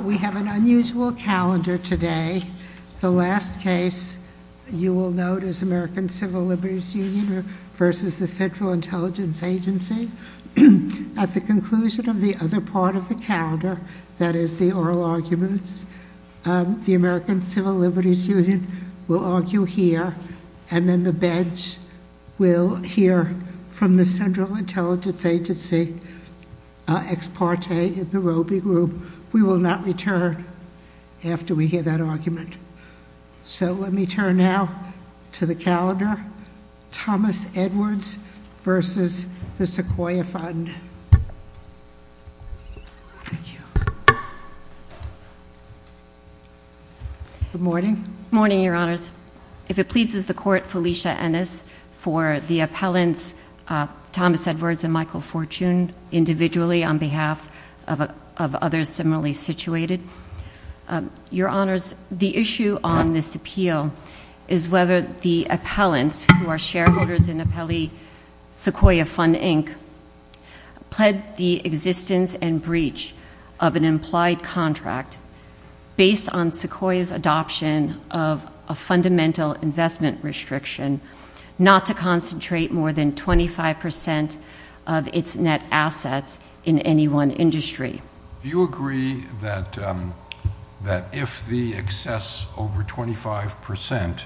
We have an unusual calendar today. The last case you will note is American Civil Liberties Union versus the Central Intelligence Agency. At the conclusion of the other part of the calendar, that is the oral arguments, the American Civil Liberties Union will argue here, and then the bench will hear ex parte in the Roe v. Group. We will not return after we hear that argument. So let me turn now to the calendar, Thomas Edwards v. the Sequoia Fund. Thank you. Good morning. Good morning, your honors. If it pleases the court, Felicia Ennis, for the appellants Thomas Edwards and Michael Fortune individually on behalf of others similarly situated. Your honors, the issue on this appeal is whether the appellants who are shareholders in appellee Sequoia Fund, Inc. pled the existence and breach of an implied contract based on Sequoia's adoption of a fundamental investment restriction not to concentrate more than 25% of its net assets in any one industry. Do you agree that if the excess over 25%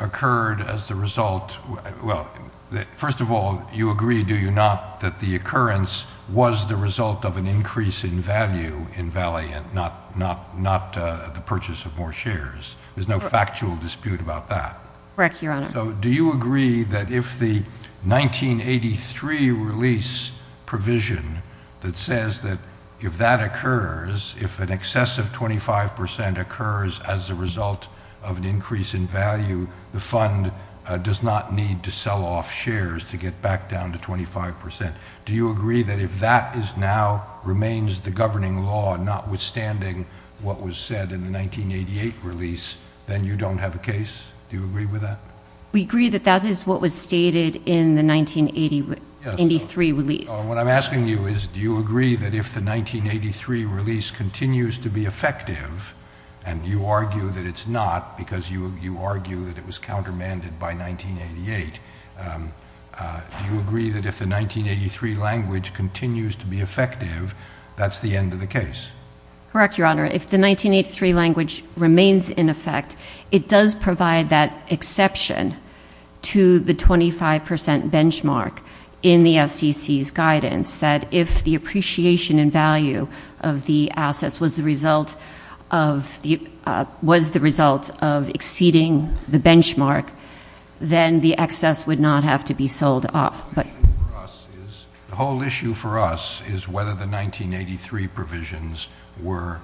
occurred as the result, well, first of all, you agree, do you not, that the occurrence was the result of an increase in value in Valley and not the purchase of more shares? There's no factual dispute about that. Correct, your honor. So do you agree that if the 1983 release provision that says that if that occurs, if an excessive 25% occurs as a result of an increase in value, the fund does not need to sell off shares to get back down to 25%. Do you agree that if that is now, remains the governing law notwithstanding what was said in the 1988 release, then you don't have a case? Do you agree with that? We agree that that is what was stated in the 1983 release. What I'm asking you is, do you agree that if the 1983 release continues to be effective, and you argue that it's not because you argue that it was countermanded by 1988, do you agree that if the 1983 language continues to be effective, that's the end of the case? Correct, your honor. If the 1983 language remains in effect, it does provide that exception to the 25% benchmark in the SEC's guidance that if the appreciation and value of the assets was the result of exceeding the benchmark, then the excess would not have to be sold off. The whole issue for us is whether the 1983 provisions were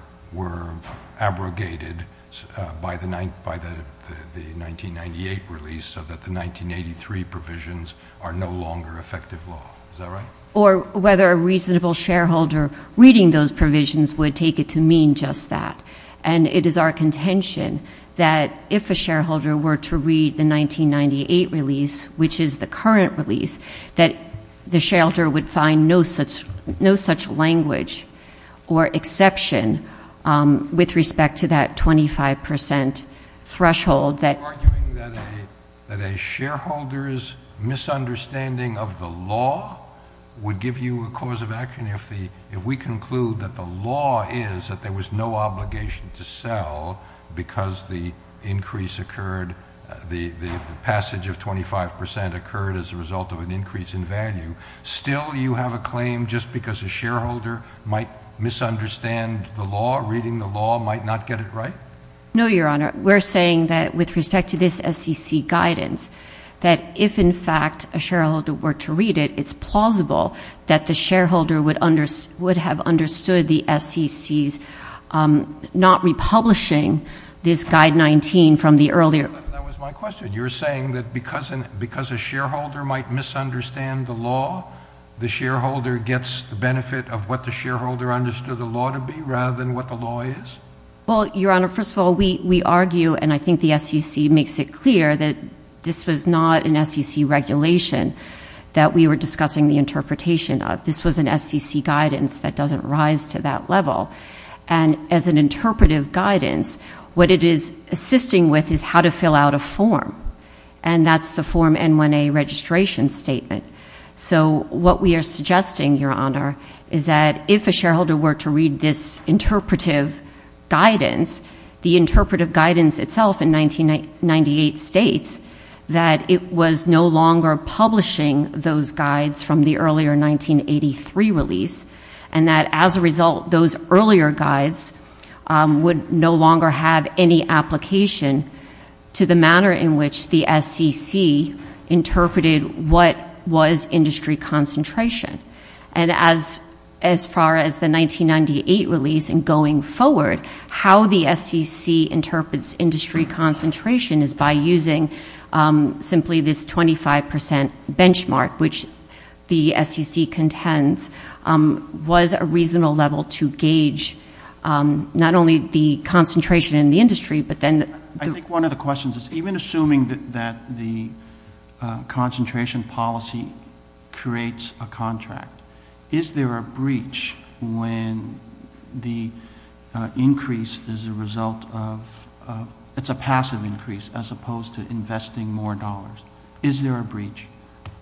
abrogated by the 1998 release so that the 1983 provisions are no longer effective law. Is that right? Or whether a reasonable shareholder reading those provisions would take it to mean just that. And it is our contention that if a shareholder were to read the 1998 release, which is the current release, that the shareholder would find no such language or exception with respect to that 25% threshold. You're arguing that a shareholder's misunderstanding of the law would give you a cause of action if we conclude that the law is that there was no obligation to sell because the increase occurred, the passage of 25% occurred as a result of an increase in value. Still you have a claim just because a shareholder might misunderstand the law, reading the law might not get it right? No, Your Honor. We're saying that with respect to this SEC guidance, that if in fact a shareholder were to read it, it's plausible that the shareholder would have understood the SEC's not republishing this guide 19 from the earlier. That was my question. might misunderstand the law, the shareholder gets the benefit of what the shareholder understood the law to be rather than what the law is? Well, Your Honor, first of all, we argue, and I think the SEC makes it clear that this was not an SEC regulation that we were discussing the interpretation of. This was an SEC guidance that doesn't rise to that level. And as an interpretive guidance, what it is assisting with is how to fill out a form. And that's the form N1A registration statement. So what we are suggesting, Your Honor, is that if a shareholder were to read this interpretive guidance, the interpretive guidance itself in 1998 states that it was no longer publishing those guides from the earlier 1983 release, and that as a result, those earlier guides would no longer have any application to the manner in which the SEC interpreted what was industry concentration. And as far as the 1998 release and going forward, how the SEC interprets industry concentration is by using simply this 25% benchmark, which the SEC contends was a reasonable level to gauge not only the concentration in the industry, but then the- I think one of the questions is, even assuming that the concentration policy creates a contract, is there a breach when the increase is a result of, it's a passive increase, as opposed to investing more dollars? Is there a breach?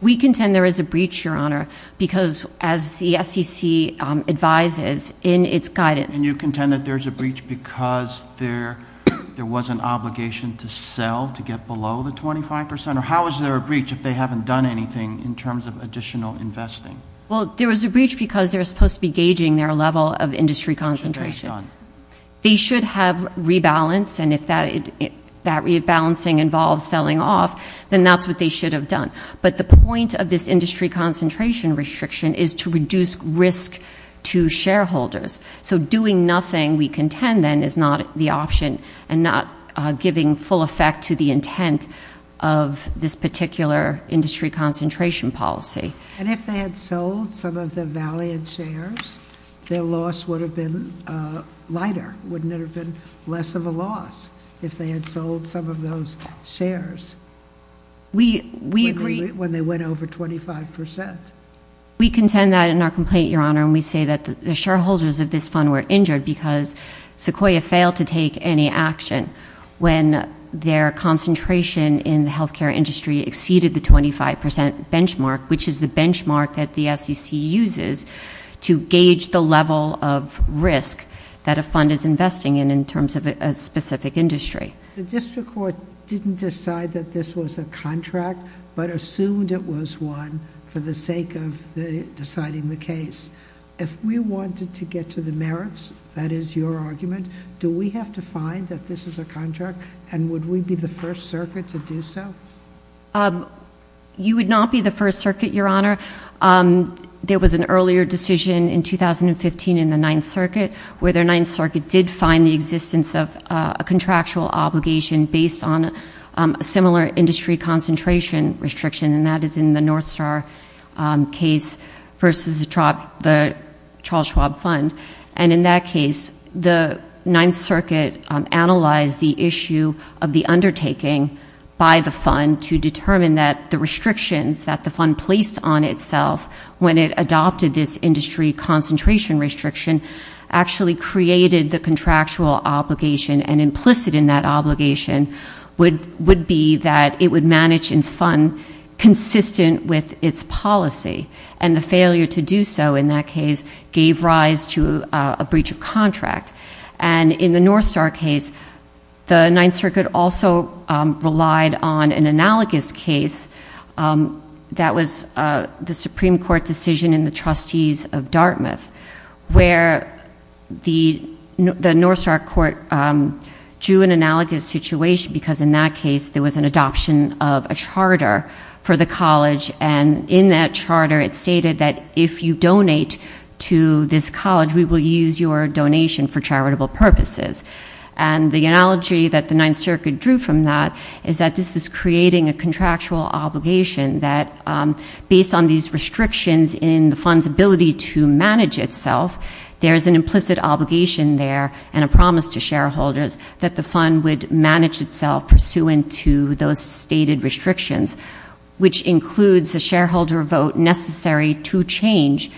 We contend there is a breach, Your Honor, because as the SEC advises in its guidance- And you contend that there's a breach because there was an obligation to sell to get below the 25%, or how is there a breach if they haven't done anything in terms of additional investing? Well, there was a breach because they were supposed to be gauging their level of industry concentration. They should have rebalanced, and if that rebalancing involves selling off, then that's what they should have done. But the point of this industry concentration restriction is to reduce risk to shareholders. So doing nothing, we contend then, is not the option, and not giving full effect to the intent of this particular industry concentration policy. And if they had sold some of the Valiant shares, their loss would have been lighter. Wouldn't it have been less of a loss if they had sold some of those shares? We agree- When they went over 25%. We contend that in our complaint, Your Honor, and we say that the shareholders of this fund were injured because Sequoia failed to take any action when their concentration in the healthcare industry exceeded the 25% benchmark, which is the benchmark that the SEC uses to gauge the level of risk that a fund is investing in in terms of a specific industry. The district court didn't decide that this was a contract, but assumed it was one for the sake of deciding the case. If we wanted to get to the merits, that is your argument, do we have to find that this is a contract, and would we be the first circuit to do so? You would not be the first circuit, Your Honor. There was an earlier decision in 2015 in the Ninth Circuit where the Ninth Circuit did find the existence of a contractual obligation based on a similar industry concentration restriction, and that is in the Northstar case versus the Charles Schwab Fund. And in that case, the Ninth Circuit analyzed the issue of the undertaking by the fund to determine that the restrictions that the fund placed on itself when it adopted this industry concentration restriction actually created the contractual obligation, and implicit in that obligation would be that it would manage its fund consistent with its policy, and the failure to do so in that case gave rise to a breach of contract. And in the Northstar case, the Ninth Circuit also relied on an analogous case that was the Supreme Court decision in the trustees of Dartmouth, where the Northstar Court drew an analogous situation because in that case, there was an adoption of a charter for the college, and in that charter, it stated that if you donate to this college, we will use your donation for charitable purposes. And the analogy that the Ninth Circuit drew from that is that this is creating a contractual obligation that based on these restrictions in the fund's ability to manage itself, there's an implicit obligation there and a promise to shareholders that the fund would manage itself pursuant to those stated restrictions, which includes a shareholder vote necessary to change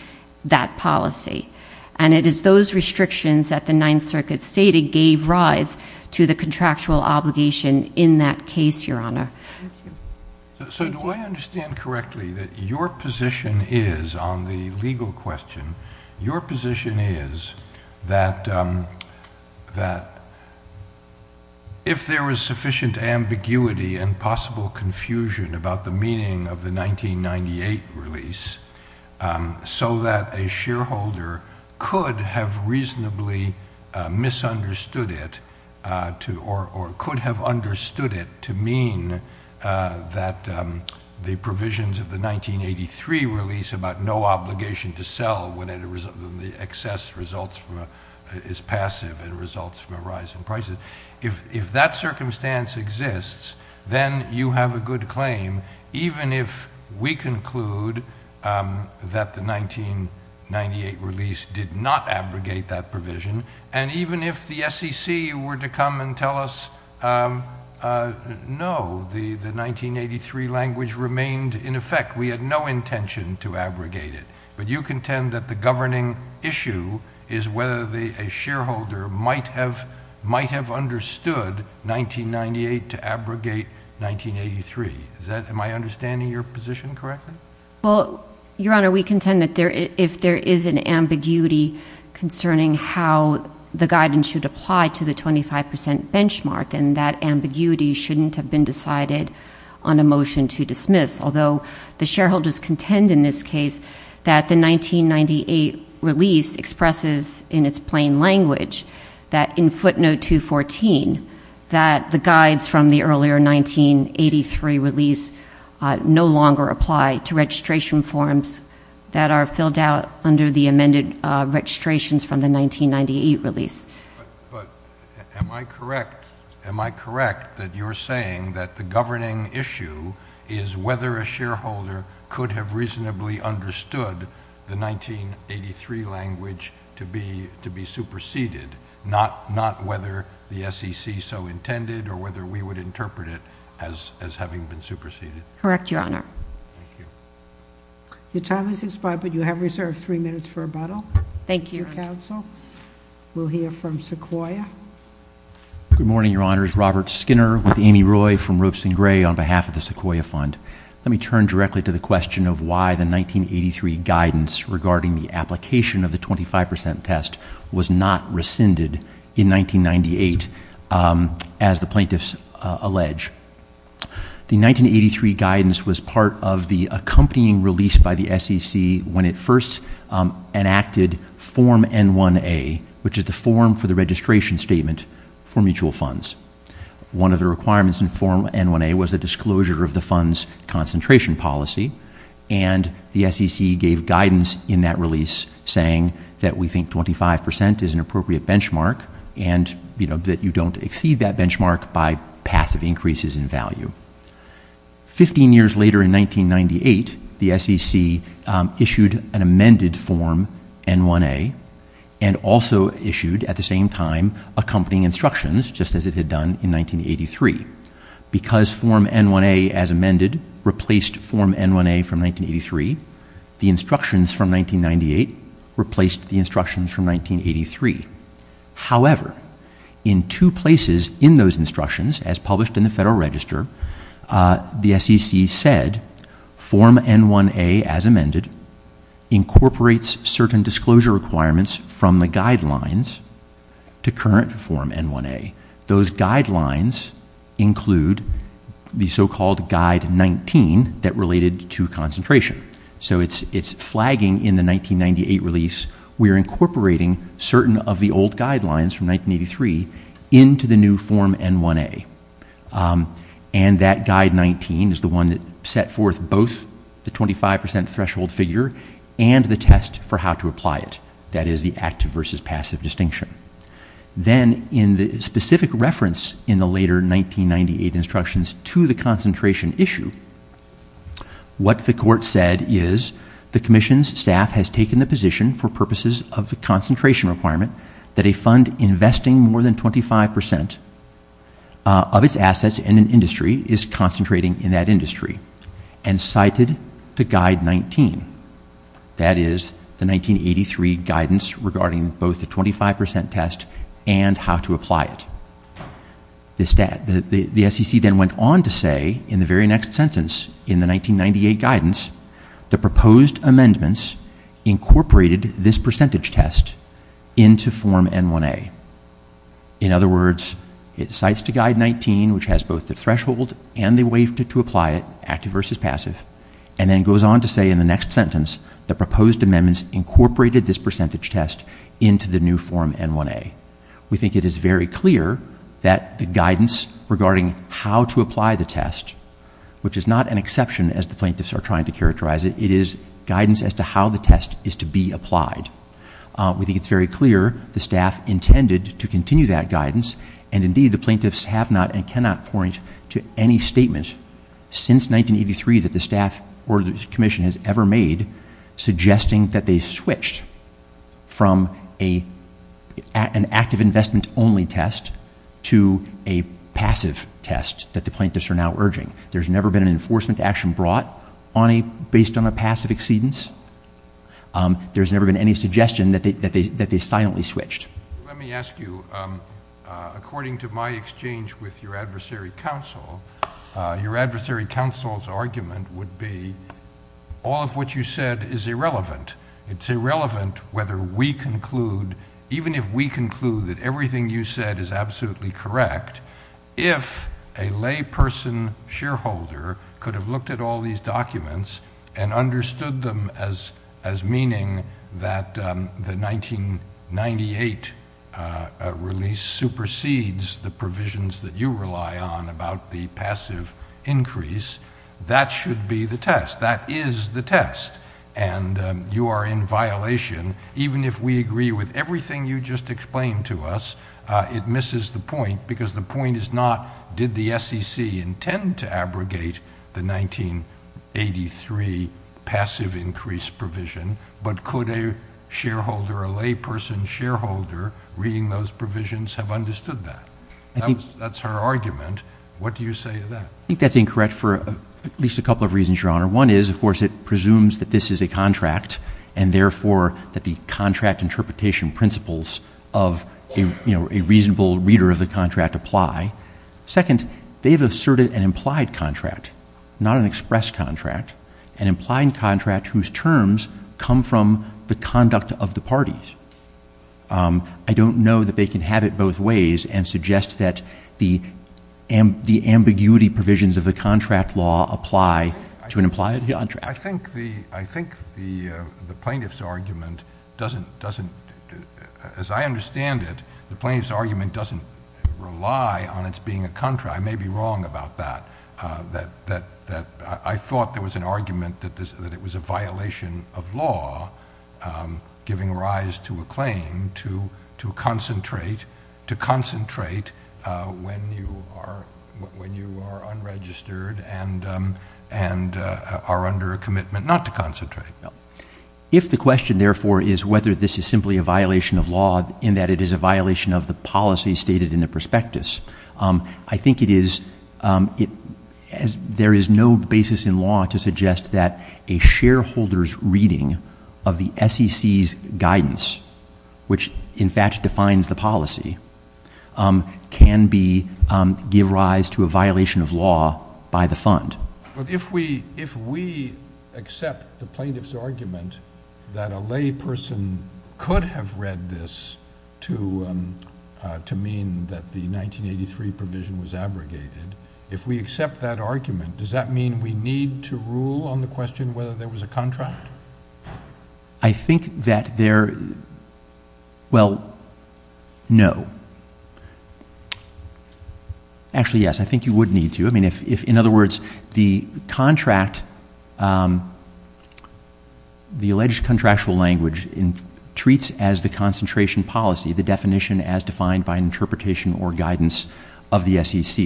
that policy. And it is those restrictions that the Ninth Circuit stated gave rise to the contractual obligation in that case, Your Honor. So do I understand correctly that your position is on the legal question, your position is that if there was sufficient ambiguity and possible confusion about the meaning of the 1998 release so that a shareholder could have reasonably misunderstood it or could have understood it to mean that the provisions of the 1983 release about no obligation to sell when the excess results is passive and results from a rise in prices, if that circumstance exists, then you have a good claim even if we conclude that the 1998 release did not abrogate that provision and even if the SEC were to come and tell us, no, the 1983 language remained in effect, we had no intention to abrogate it. But you contend that the governing issue is whether a shareholder might have understood 1998 to abrogate 1983. Am I understanding your position correctly? Well, Your Honor, we contend that if there is an ambiguity concerning how the guidance should apply to the 25% benchmark, then that ambiguity shouldn't have been decided on a motion to dismiss. Although the shareholders contend in this case that the 1998 release expresses in its plain language that in footnote 214, that the guides from the earlier 1983 release no longer apply to registration forms that are filled out under the amended registrations from the 1998 release. But am I correct that you're saying that the governing issue is whether a shareholder could have reasonably understood the 1983 language to be superseded, not whether the SEC so intended or whether we would interpret it as having been superseded? Correct, Your Honor. Thank you. Your time has expired, but you have reserved three minutes for rebuttal. Thank you, counsel. We'll hear from Sequoia. Good morning, Your Honors. Robert Skinner with Amy Roy from Roots and Gray on behalf of the Sequoia Fund. Let me turn directly to the question of why the 1983 guidance regarding the application of the 25% test was not rescinded in 1998 as the plaintiffs allege. The 1983 guidance was part of the accompanying release by the SEC when it first enacted Form N1A, which is the form for the registration statement for mutual funds. One of the requirements in Form N1A was the disclosure of the fund's concentration policy, and the SEC gave guidance in that release saying that we think 25% is an appropriate benchmark and that you don't exceed that benchmark by passive increases in value. 15 years later in 1998, the SEC issued an amended Form N1A and also issued, at the same time, accompanying instructions just as it had done in 1983. Because Form N1A as amended replaced Form N1A from 1983, the instructions from 1998 replaced the instructions from 1983. However, in two places in those instructions, as published in the Federal Register, the SEC said Form N1A as amended incorporates certain disclosure requirements from the guidelines to current Form N1A. Those guidelines include the so-called Guide 19 that related to concentration. So it's flagging in the 1998 release we're incorporating certain of the old guidelines from 1983 into the new Form N1A. And that Guide 19 is the one that set forth both the 25% threshold figure and the test for how to apply it, that is the active versus passive distinction. Then in the specific reference in the later 1998 instructions to the concentration issue, what the Court said is, the Commission's staff has taken the position for purposes of the concentration requirement that a fund investing more than 25% of its assets in an industry is concentrating in that industry and cited the Guide 19. That is the 1983 guidance regarding both the 25% test and how to apply it. The SEC then went on to say in the very next sentence in the 1998 guidance, the proposed amendments incorporated this percentage test into Form N1A. In other words, it cites the Guide 19 which has both the threshold and the way to apply it, active versus passive, and then goes on to say in the next sentence, the proposed amendments incorporated this percentage test into the new Form N1A. We think it is very clear that the guidance regarding how to apply the test, which is not an exception as the plaintiffs are trying to characterize it, it is guidance as to how the test is to be applied. We think it's very clear the staff intended to continue that guidance, and indeed the plaintiffs have not and cannot point to any statement since 1983 that the staff or the commission has ever made suggesting that they switched from an active investment only test to a passive test that the plaintiffs are now urging. There's never been an enforcement action brought based on a passive exceedance. There's never been any suggestion that they silently switched. Let me ask you, according to my exchange with your adversary counsel, your adversary counsel's argument would be all of what you said is irrelevant. It's irrelevant whether we conclude, even if we conclude that everything you said is absolutely correct, if a layperson shareholder could have looked at all these documents and understood them as meaning that the 1998 release supersedes the provisions that you rely on about the passive increase, that should be the test. That is the test, and you are in violation. Even if we agree with everything you just explained to us, it misses the point because the point is not did the SEC intend to abrogate the 1983 passive increase provision, but could a shareholder, a layperson shareholder reading those provisions have understood that? That's her argument. What do you say to that? I think that's incorrect for at least a couple of reasons, Your Honor. One is, of course, it presumes that this is a contract and therefore that the contract interpretation principles of a reasonable reader of the contract apply. Second, they've asserted an implied contract, not an express contract, an implied contract whose terms come from the conduct of the parties. I don't know that they can have it both ways and suggest that the ambiguity provisions of the contract law apply to an implied contract. I think the plaintiff's argument doesn't, as I understand it, the plaintiff's argument doesn't rely on its being a contract. I may be wrong about that. I thought there was an argument that it was a violation of law, giving rise to a claim to concentrate when you are unregistered and are under a commitment not to concentrate. If the question, therefore, is whether this is simply a violation of law in that it is a violation of the policy stated in the prospectus, I think there is no basis in law to suggest that a shareholder's reading of the SEC's guidance, which in fact defines the policy, can give rise to a violation of law by the fund. But if we accept the plaintiff's argument that a lay person could have read this to mean that the 1983 provision was abrogated, if we accept that argument, does that mean we need to rule on the question whether there was a contract? I think that there, well, no. Actually, yes, I think you would need to. I mean, if, in other words, the contract, the alleged contractual language treats as the concentration policy, the definition as defined by interpretation or guidance of the SEC.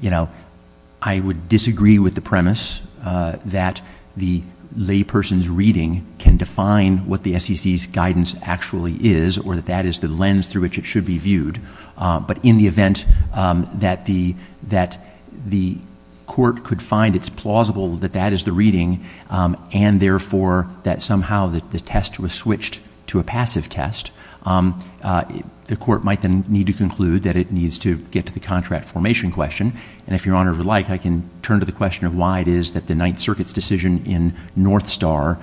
You know, I would disagree with the premise that the lay person's reading can define what the SEC's guidance actually is or that that is the lens through which it should be viewed. But in the event that the court could find it's plausible that that is the reading and therefore that somehow the test was switched to a passive test, the court might then need to conclude that it needs to get to the contract formation question. And if Your Honor would like, I can turn to the question of why it is that the Ninth Circuit's decision in North Star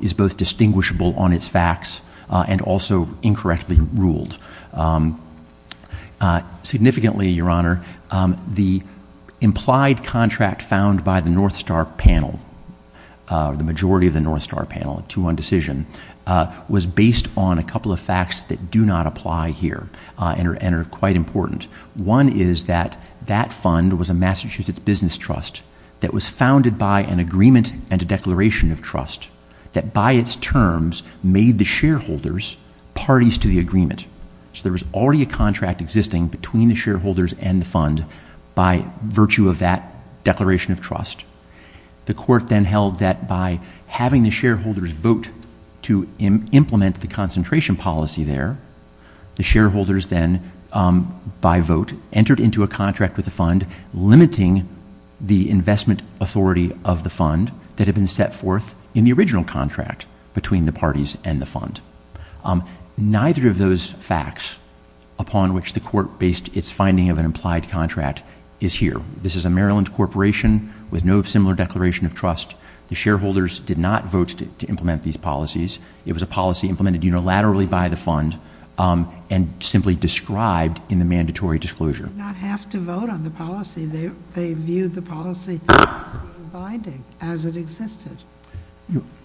is both distinguishable on its facts and also incorrectly ruled. Significantly, Your Honor, the implied contract found by the North Star panel, the majority of the North Star panel, a two-one decision, was based on a couple of facts that do not apply here and are quite important. One is that that fund was a Massachusetts business trust that was founded by an agreement and a declaration of trust that by its terms made the shareholders parties to the agreement. So there was already a contract existing between the shareholders and the fund by virtue of that declaration of trust. The court then held that by having the shareholders vote to implement the concentration policy there, the shareholders then by vote entered into a contract with the fund limiting the investment authority of the fund that had been set forth in the original contract between the parties and the fund. Neither of those facts upon which the court based its finding of an implied contract is here. This is a Maryland corporation with no similar declaration of trust. The shareholders did not vote to implement these policies. It was a policy implemented unilaterally by the fund and simply described in the mandatory disclosure. They did not have to vote on the policy. They viewed the policy binding as it existed.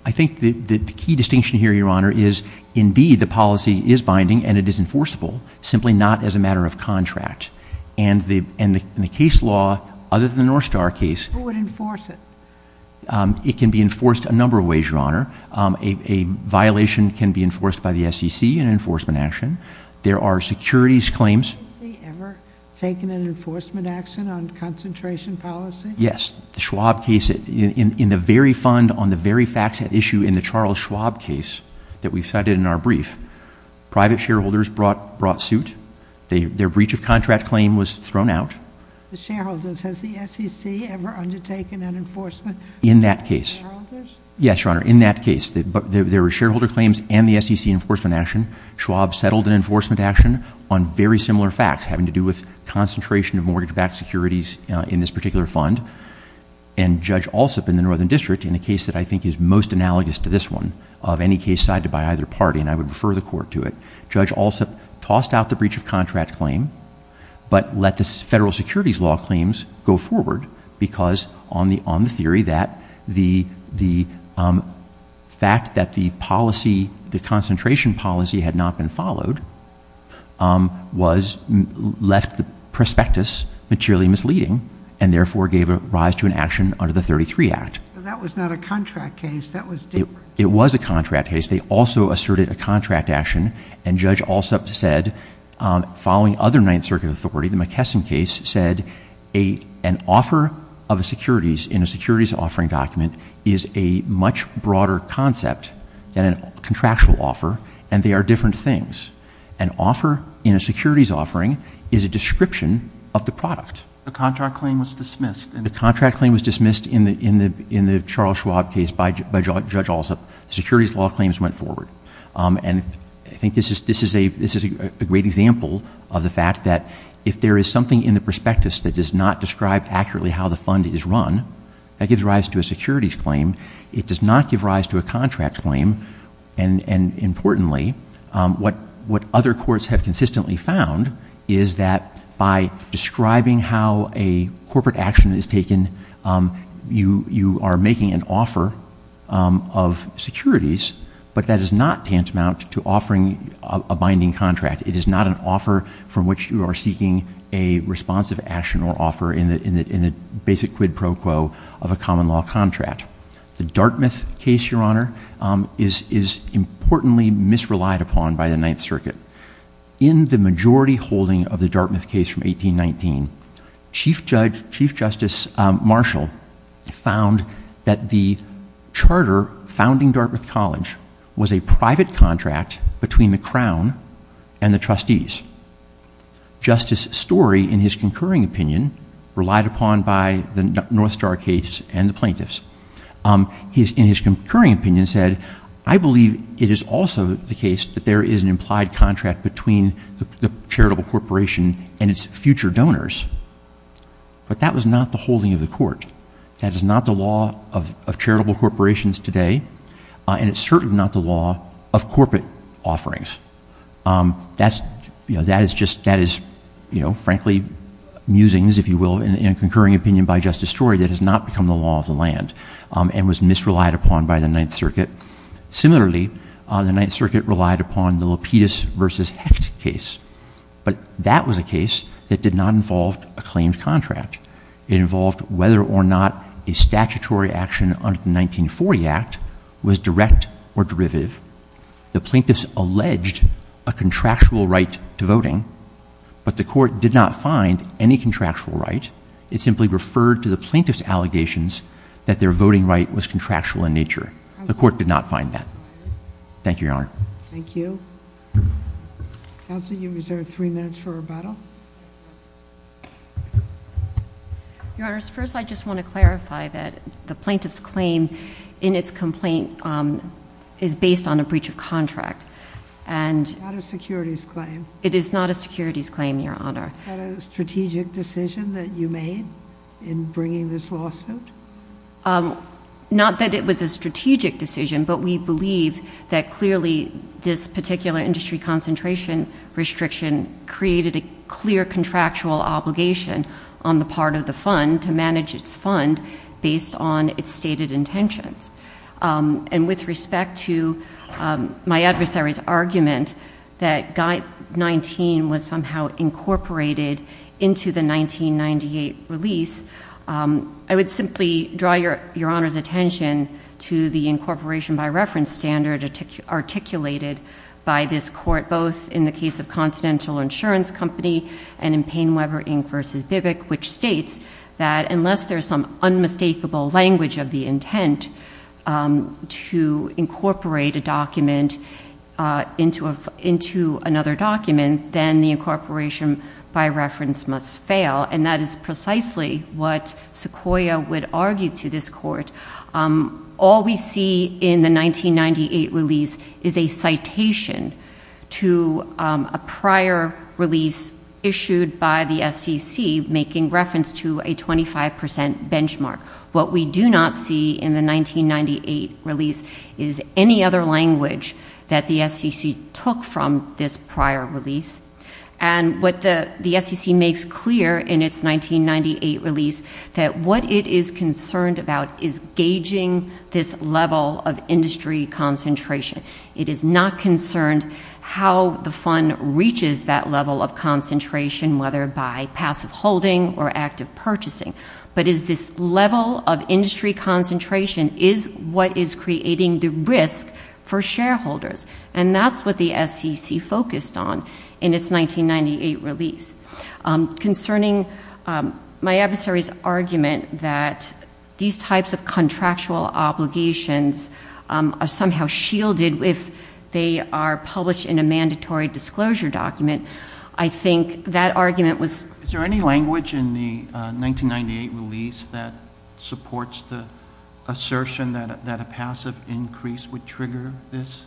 I think that the key distinction here, Your Honor, is indeed the policy is binding and it is enforceable, simply not as a matter of contract. And the case law, other than the North Star case- Who would enforce it? It can be enforced a number of ways, Your Honor. A violation can be enforced by the SEC, an enforcement action. There are securities claims- Has the SEC ever taken an enforcement action on concentration policy? Yes. The Schwab case, in the very fund, on the very facts at issue in the Charles Schwab case that we cited in our brief, private shareholders brought suit. Their breach of contract claim was thrown out. The shareholders. Has the SEC ever undertaken an enforcement- In that case. Yes, Your Honor, in that case. There were shareholder claims and the SEC enforcement action. Schwab settled an enforcement action on very similar facts, having to do with concentration of mortgage-backed securities in this particular fund. And Judge Alsup in the Northern District, in a case that I think is most analogous to this one, of any case cited by either party, and I would refer the court to it, Judge Alsup tossed out the breach of contract claim, but let the federal securities law claims go forward because on the theory that the fact that the policy, the concentration policy had not been followed, was, left the prospectus materially misleading, and therefore gave a rise to an action under the 33 Act. That was not a contract case. That was different. It was a contract case. They also asserted a contract action. And Judge Alsup said, following other Ninth Circuit authority, the McKesson case said an offer of securities in a securities offering document is a much broader concept than a contractual offer, and they are different things. An offer in a securities offering is a description of the product. The contract claim was dismissed. The contract claim was dismissed in the Charles Schwab case by Judge Alsup. Securities law claims went forward. And I think this is a great example of the fact that if there is something in the prospectus that does not describe accurately how the fund is run, that gives rise to a securities claim. It does not give rise to a contract claim, and importantly, what other courts have consistently found is that by describing how a corporate action is taken, you are making an offer of securities, but that is not tantamount to offering a binding contract. It is not an offer from which you are seeking a responsive action or offer in the basic quid pro quo of a common law contract. The Dartmouth case, Your Honor, is importantly misrelied upon by the Ninth Circuit. In the majority holding of the Dartmouth case from 1819, Chief Justice Marshall found that the charter founding Dartmouth College was a private contract between the Crown and the trustees. Justice Story, in his concurring opinion, relied upon by the North Star case and the plaintiffs. He, in his concurring opinion, said, I believe it is also the case that there is an implied contract between the charitable corporation and its future donors, but that was not the holding of the court. That is not the law of charitable corporations today, and it's certainly not the law of corporate offerings. That is just, that is, you know, frankly musings, if you will, in a concurring opinion by Justice Story that has not become the law of the land and was misrelied upon by the Ninth Circuit. Similarly, the Ninth Circuit relied upon the Lapidus versus Hecht case, but that was a case that did not involve a claimed contract. It involved whether or not a statutory action under the 1940 Act was direct or derivative. The plaintiffs alleged a contractual right to voting, but the court did not find any contractual right. It simply referred to the plaintiff's allegations that their voting right was contractual in nature. The court did not find that. Thank you, Your Honor. Thank you. Counsel, you're reserved three minutes for rebuttal. Your Honors, first I just want to clarify that the plaintiff's claim in its complaint is based on a breach of contract and- It's not a securities claim. It is not a securities claim, Your Honor. Is that a strategic decision that you made in bringing this lawsuit? Not that it was a strategic decision, but we believe that clearly this particular industry concentration restriction created a clear contractual obligation on the part of the fund to manage its fund based on its stated intentions. And with respect to my adversary's argument that Guide 19 was somehow incorporated into the 1998 release, I would simply draw Your Honor's attention to the incorporation by reference standard articulated by this court, both in the case of Continental Insurance Company and in Payne-Weber Inc. v. Bivic, which states that unless there's some unmistakable language of the intent to incorporate a document into another document, then the incorporation by reference must fail. And that is precisely what Sequoia would argue to this court. All we see in the 1998 release is a citation to a prior release issued by the SEC making reference to a 25% benchmark. What we do not see in the 1998 release is any other language that the SEC took from this prior release. And what the SEC makes clear in its 1998 release that what it is concerned about is gauging this level of industry concentration. It is not concerned how the fund reaches that level of concentration, whether by passive holding or active purchasing, but is this level of industry concentration is what is creating the risk for shareholders. And that's what the SEC focused on in its 1998 release. Concerning my adversary's argument that these types of contractual obligations are somehow shielded if they are published in a mandatory disclosure document, I think that argument was. Is there any language in the 1998 release that supports the assertion that a passive increase would trigger this?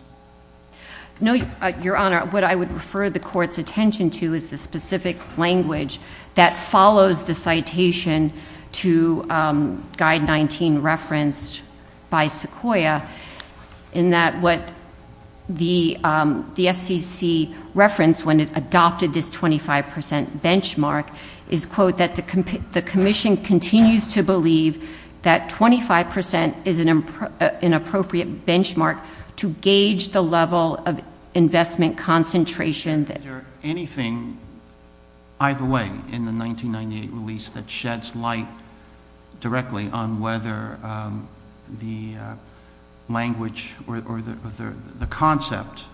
No, Your Honor. What I would refer the court's attention to is the specific language that follows the citation to guide 19 referenced by Sequoia in that what the SEC referenced when it adopted this 25% benchmark is, quote, that the commission continues to believe that 25% is an appropriate benchmark to gauge the level of investment concentration. Is there anything, either way, in the 1998 release that sheds light directly on whether the language or the concept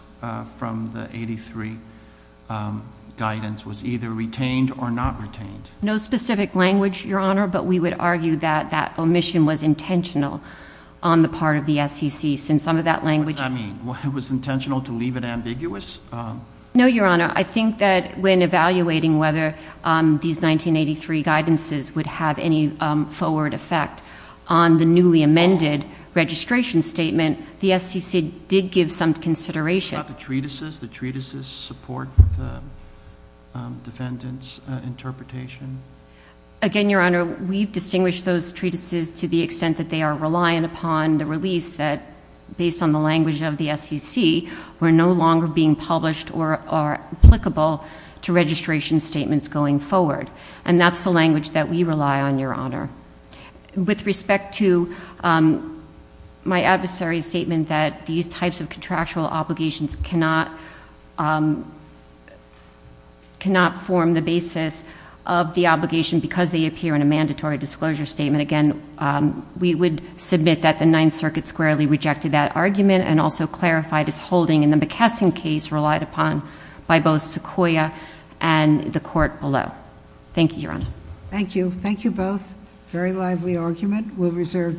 from the 83 guidance was either retained or not retained? No specific language, Your Honor, but we would argue that that omission was intentional on the part of the SEC, since some of that language- What does that mean? It was intentional to leave it ambiguous? No, Your Honor. I think that when evaluating whether these 1983 guidances would have any forward effect on the newly amended registration statement, the SEC did give some consideration. What about the treatises? The treatises support the defendant's interpretation? Again, Your Honor, we've distinguished those treatises to the extent that they are reliant upon the release that, based on the language of the SEC, were no longer being published or are applicable to registration statements going forward, and that's the language that we rely on, Your Honor. With respect to my adversary's statement that these types of contractual obligations cannot form the basis of the obligation because they appear in a mandatory disclosure statement, again, we would submit that the Ninth Circuit squarely rejected that argument and also clarified its holding in the McKesson case relied upon by both Sequoia and the court below. Thank you, Your Honor. Thank you. Thank you both. Very lively argument. We'll reserve decision.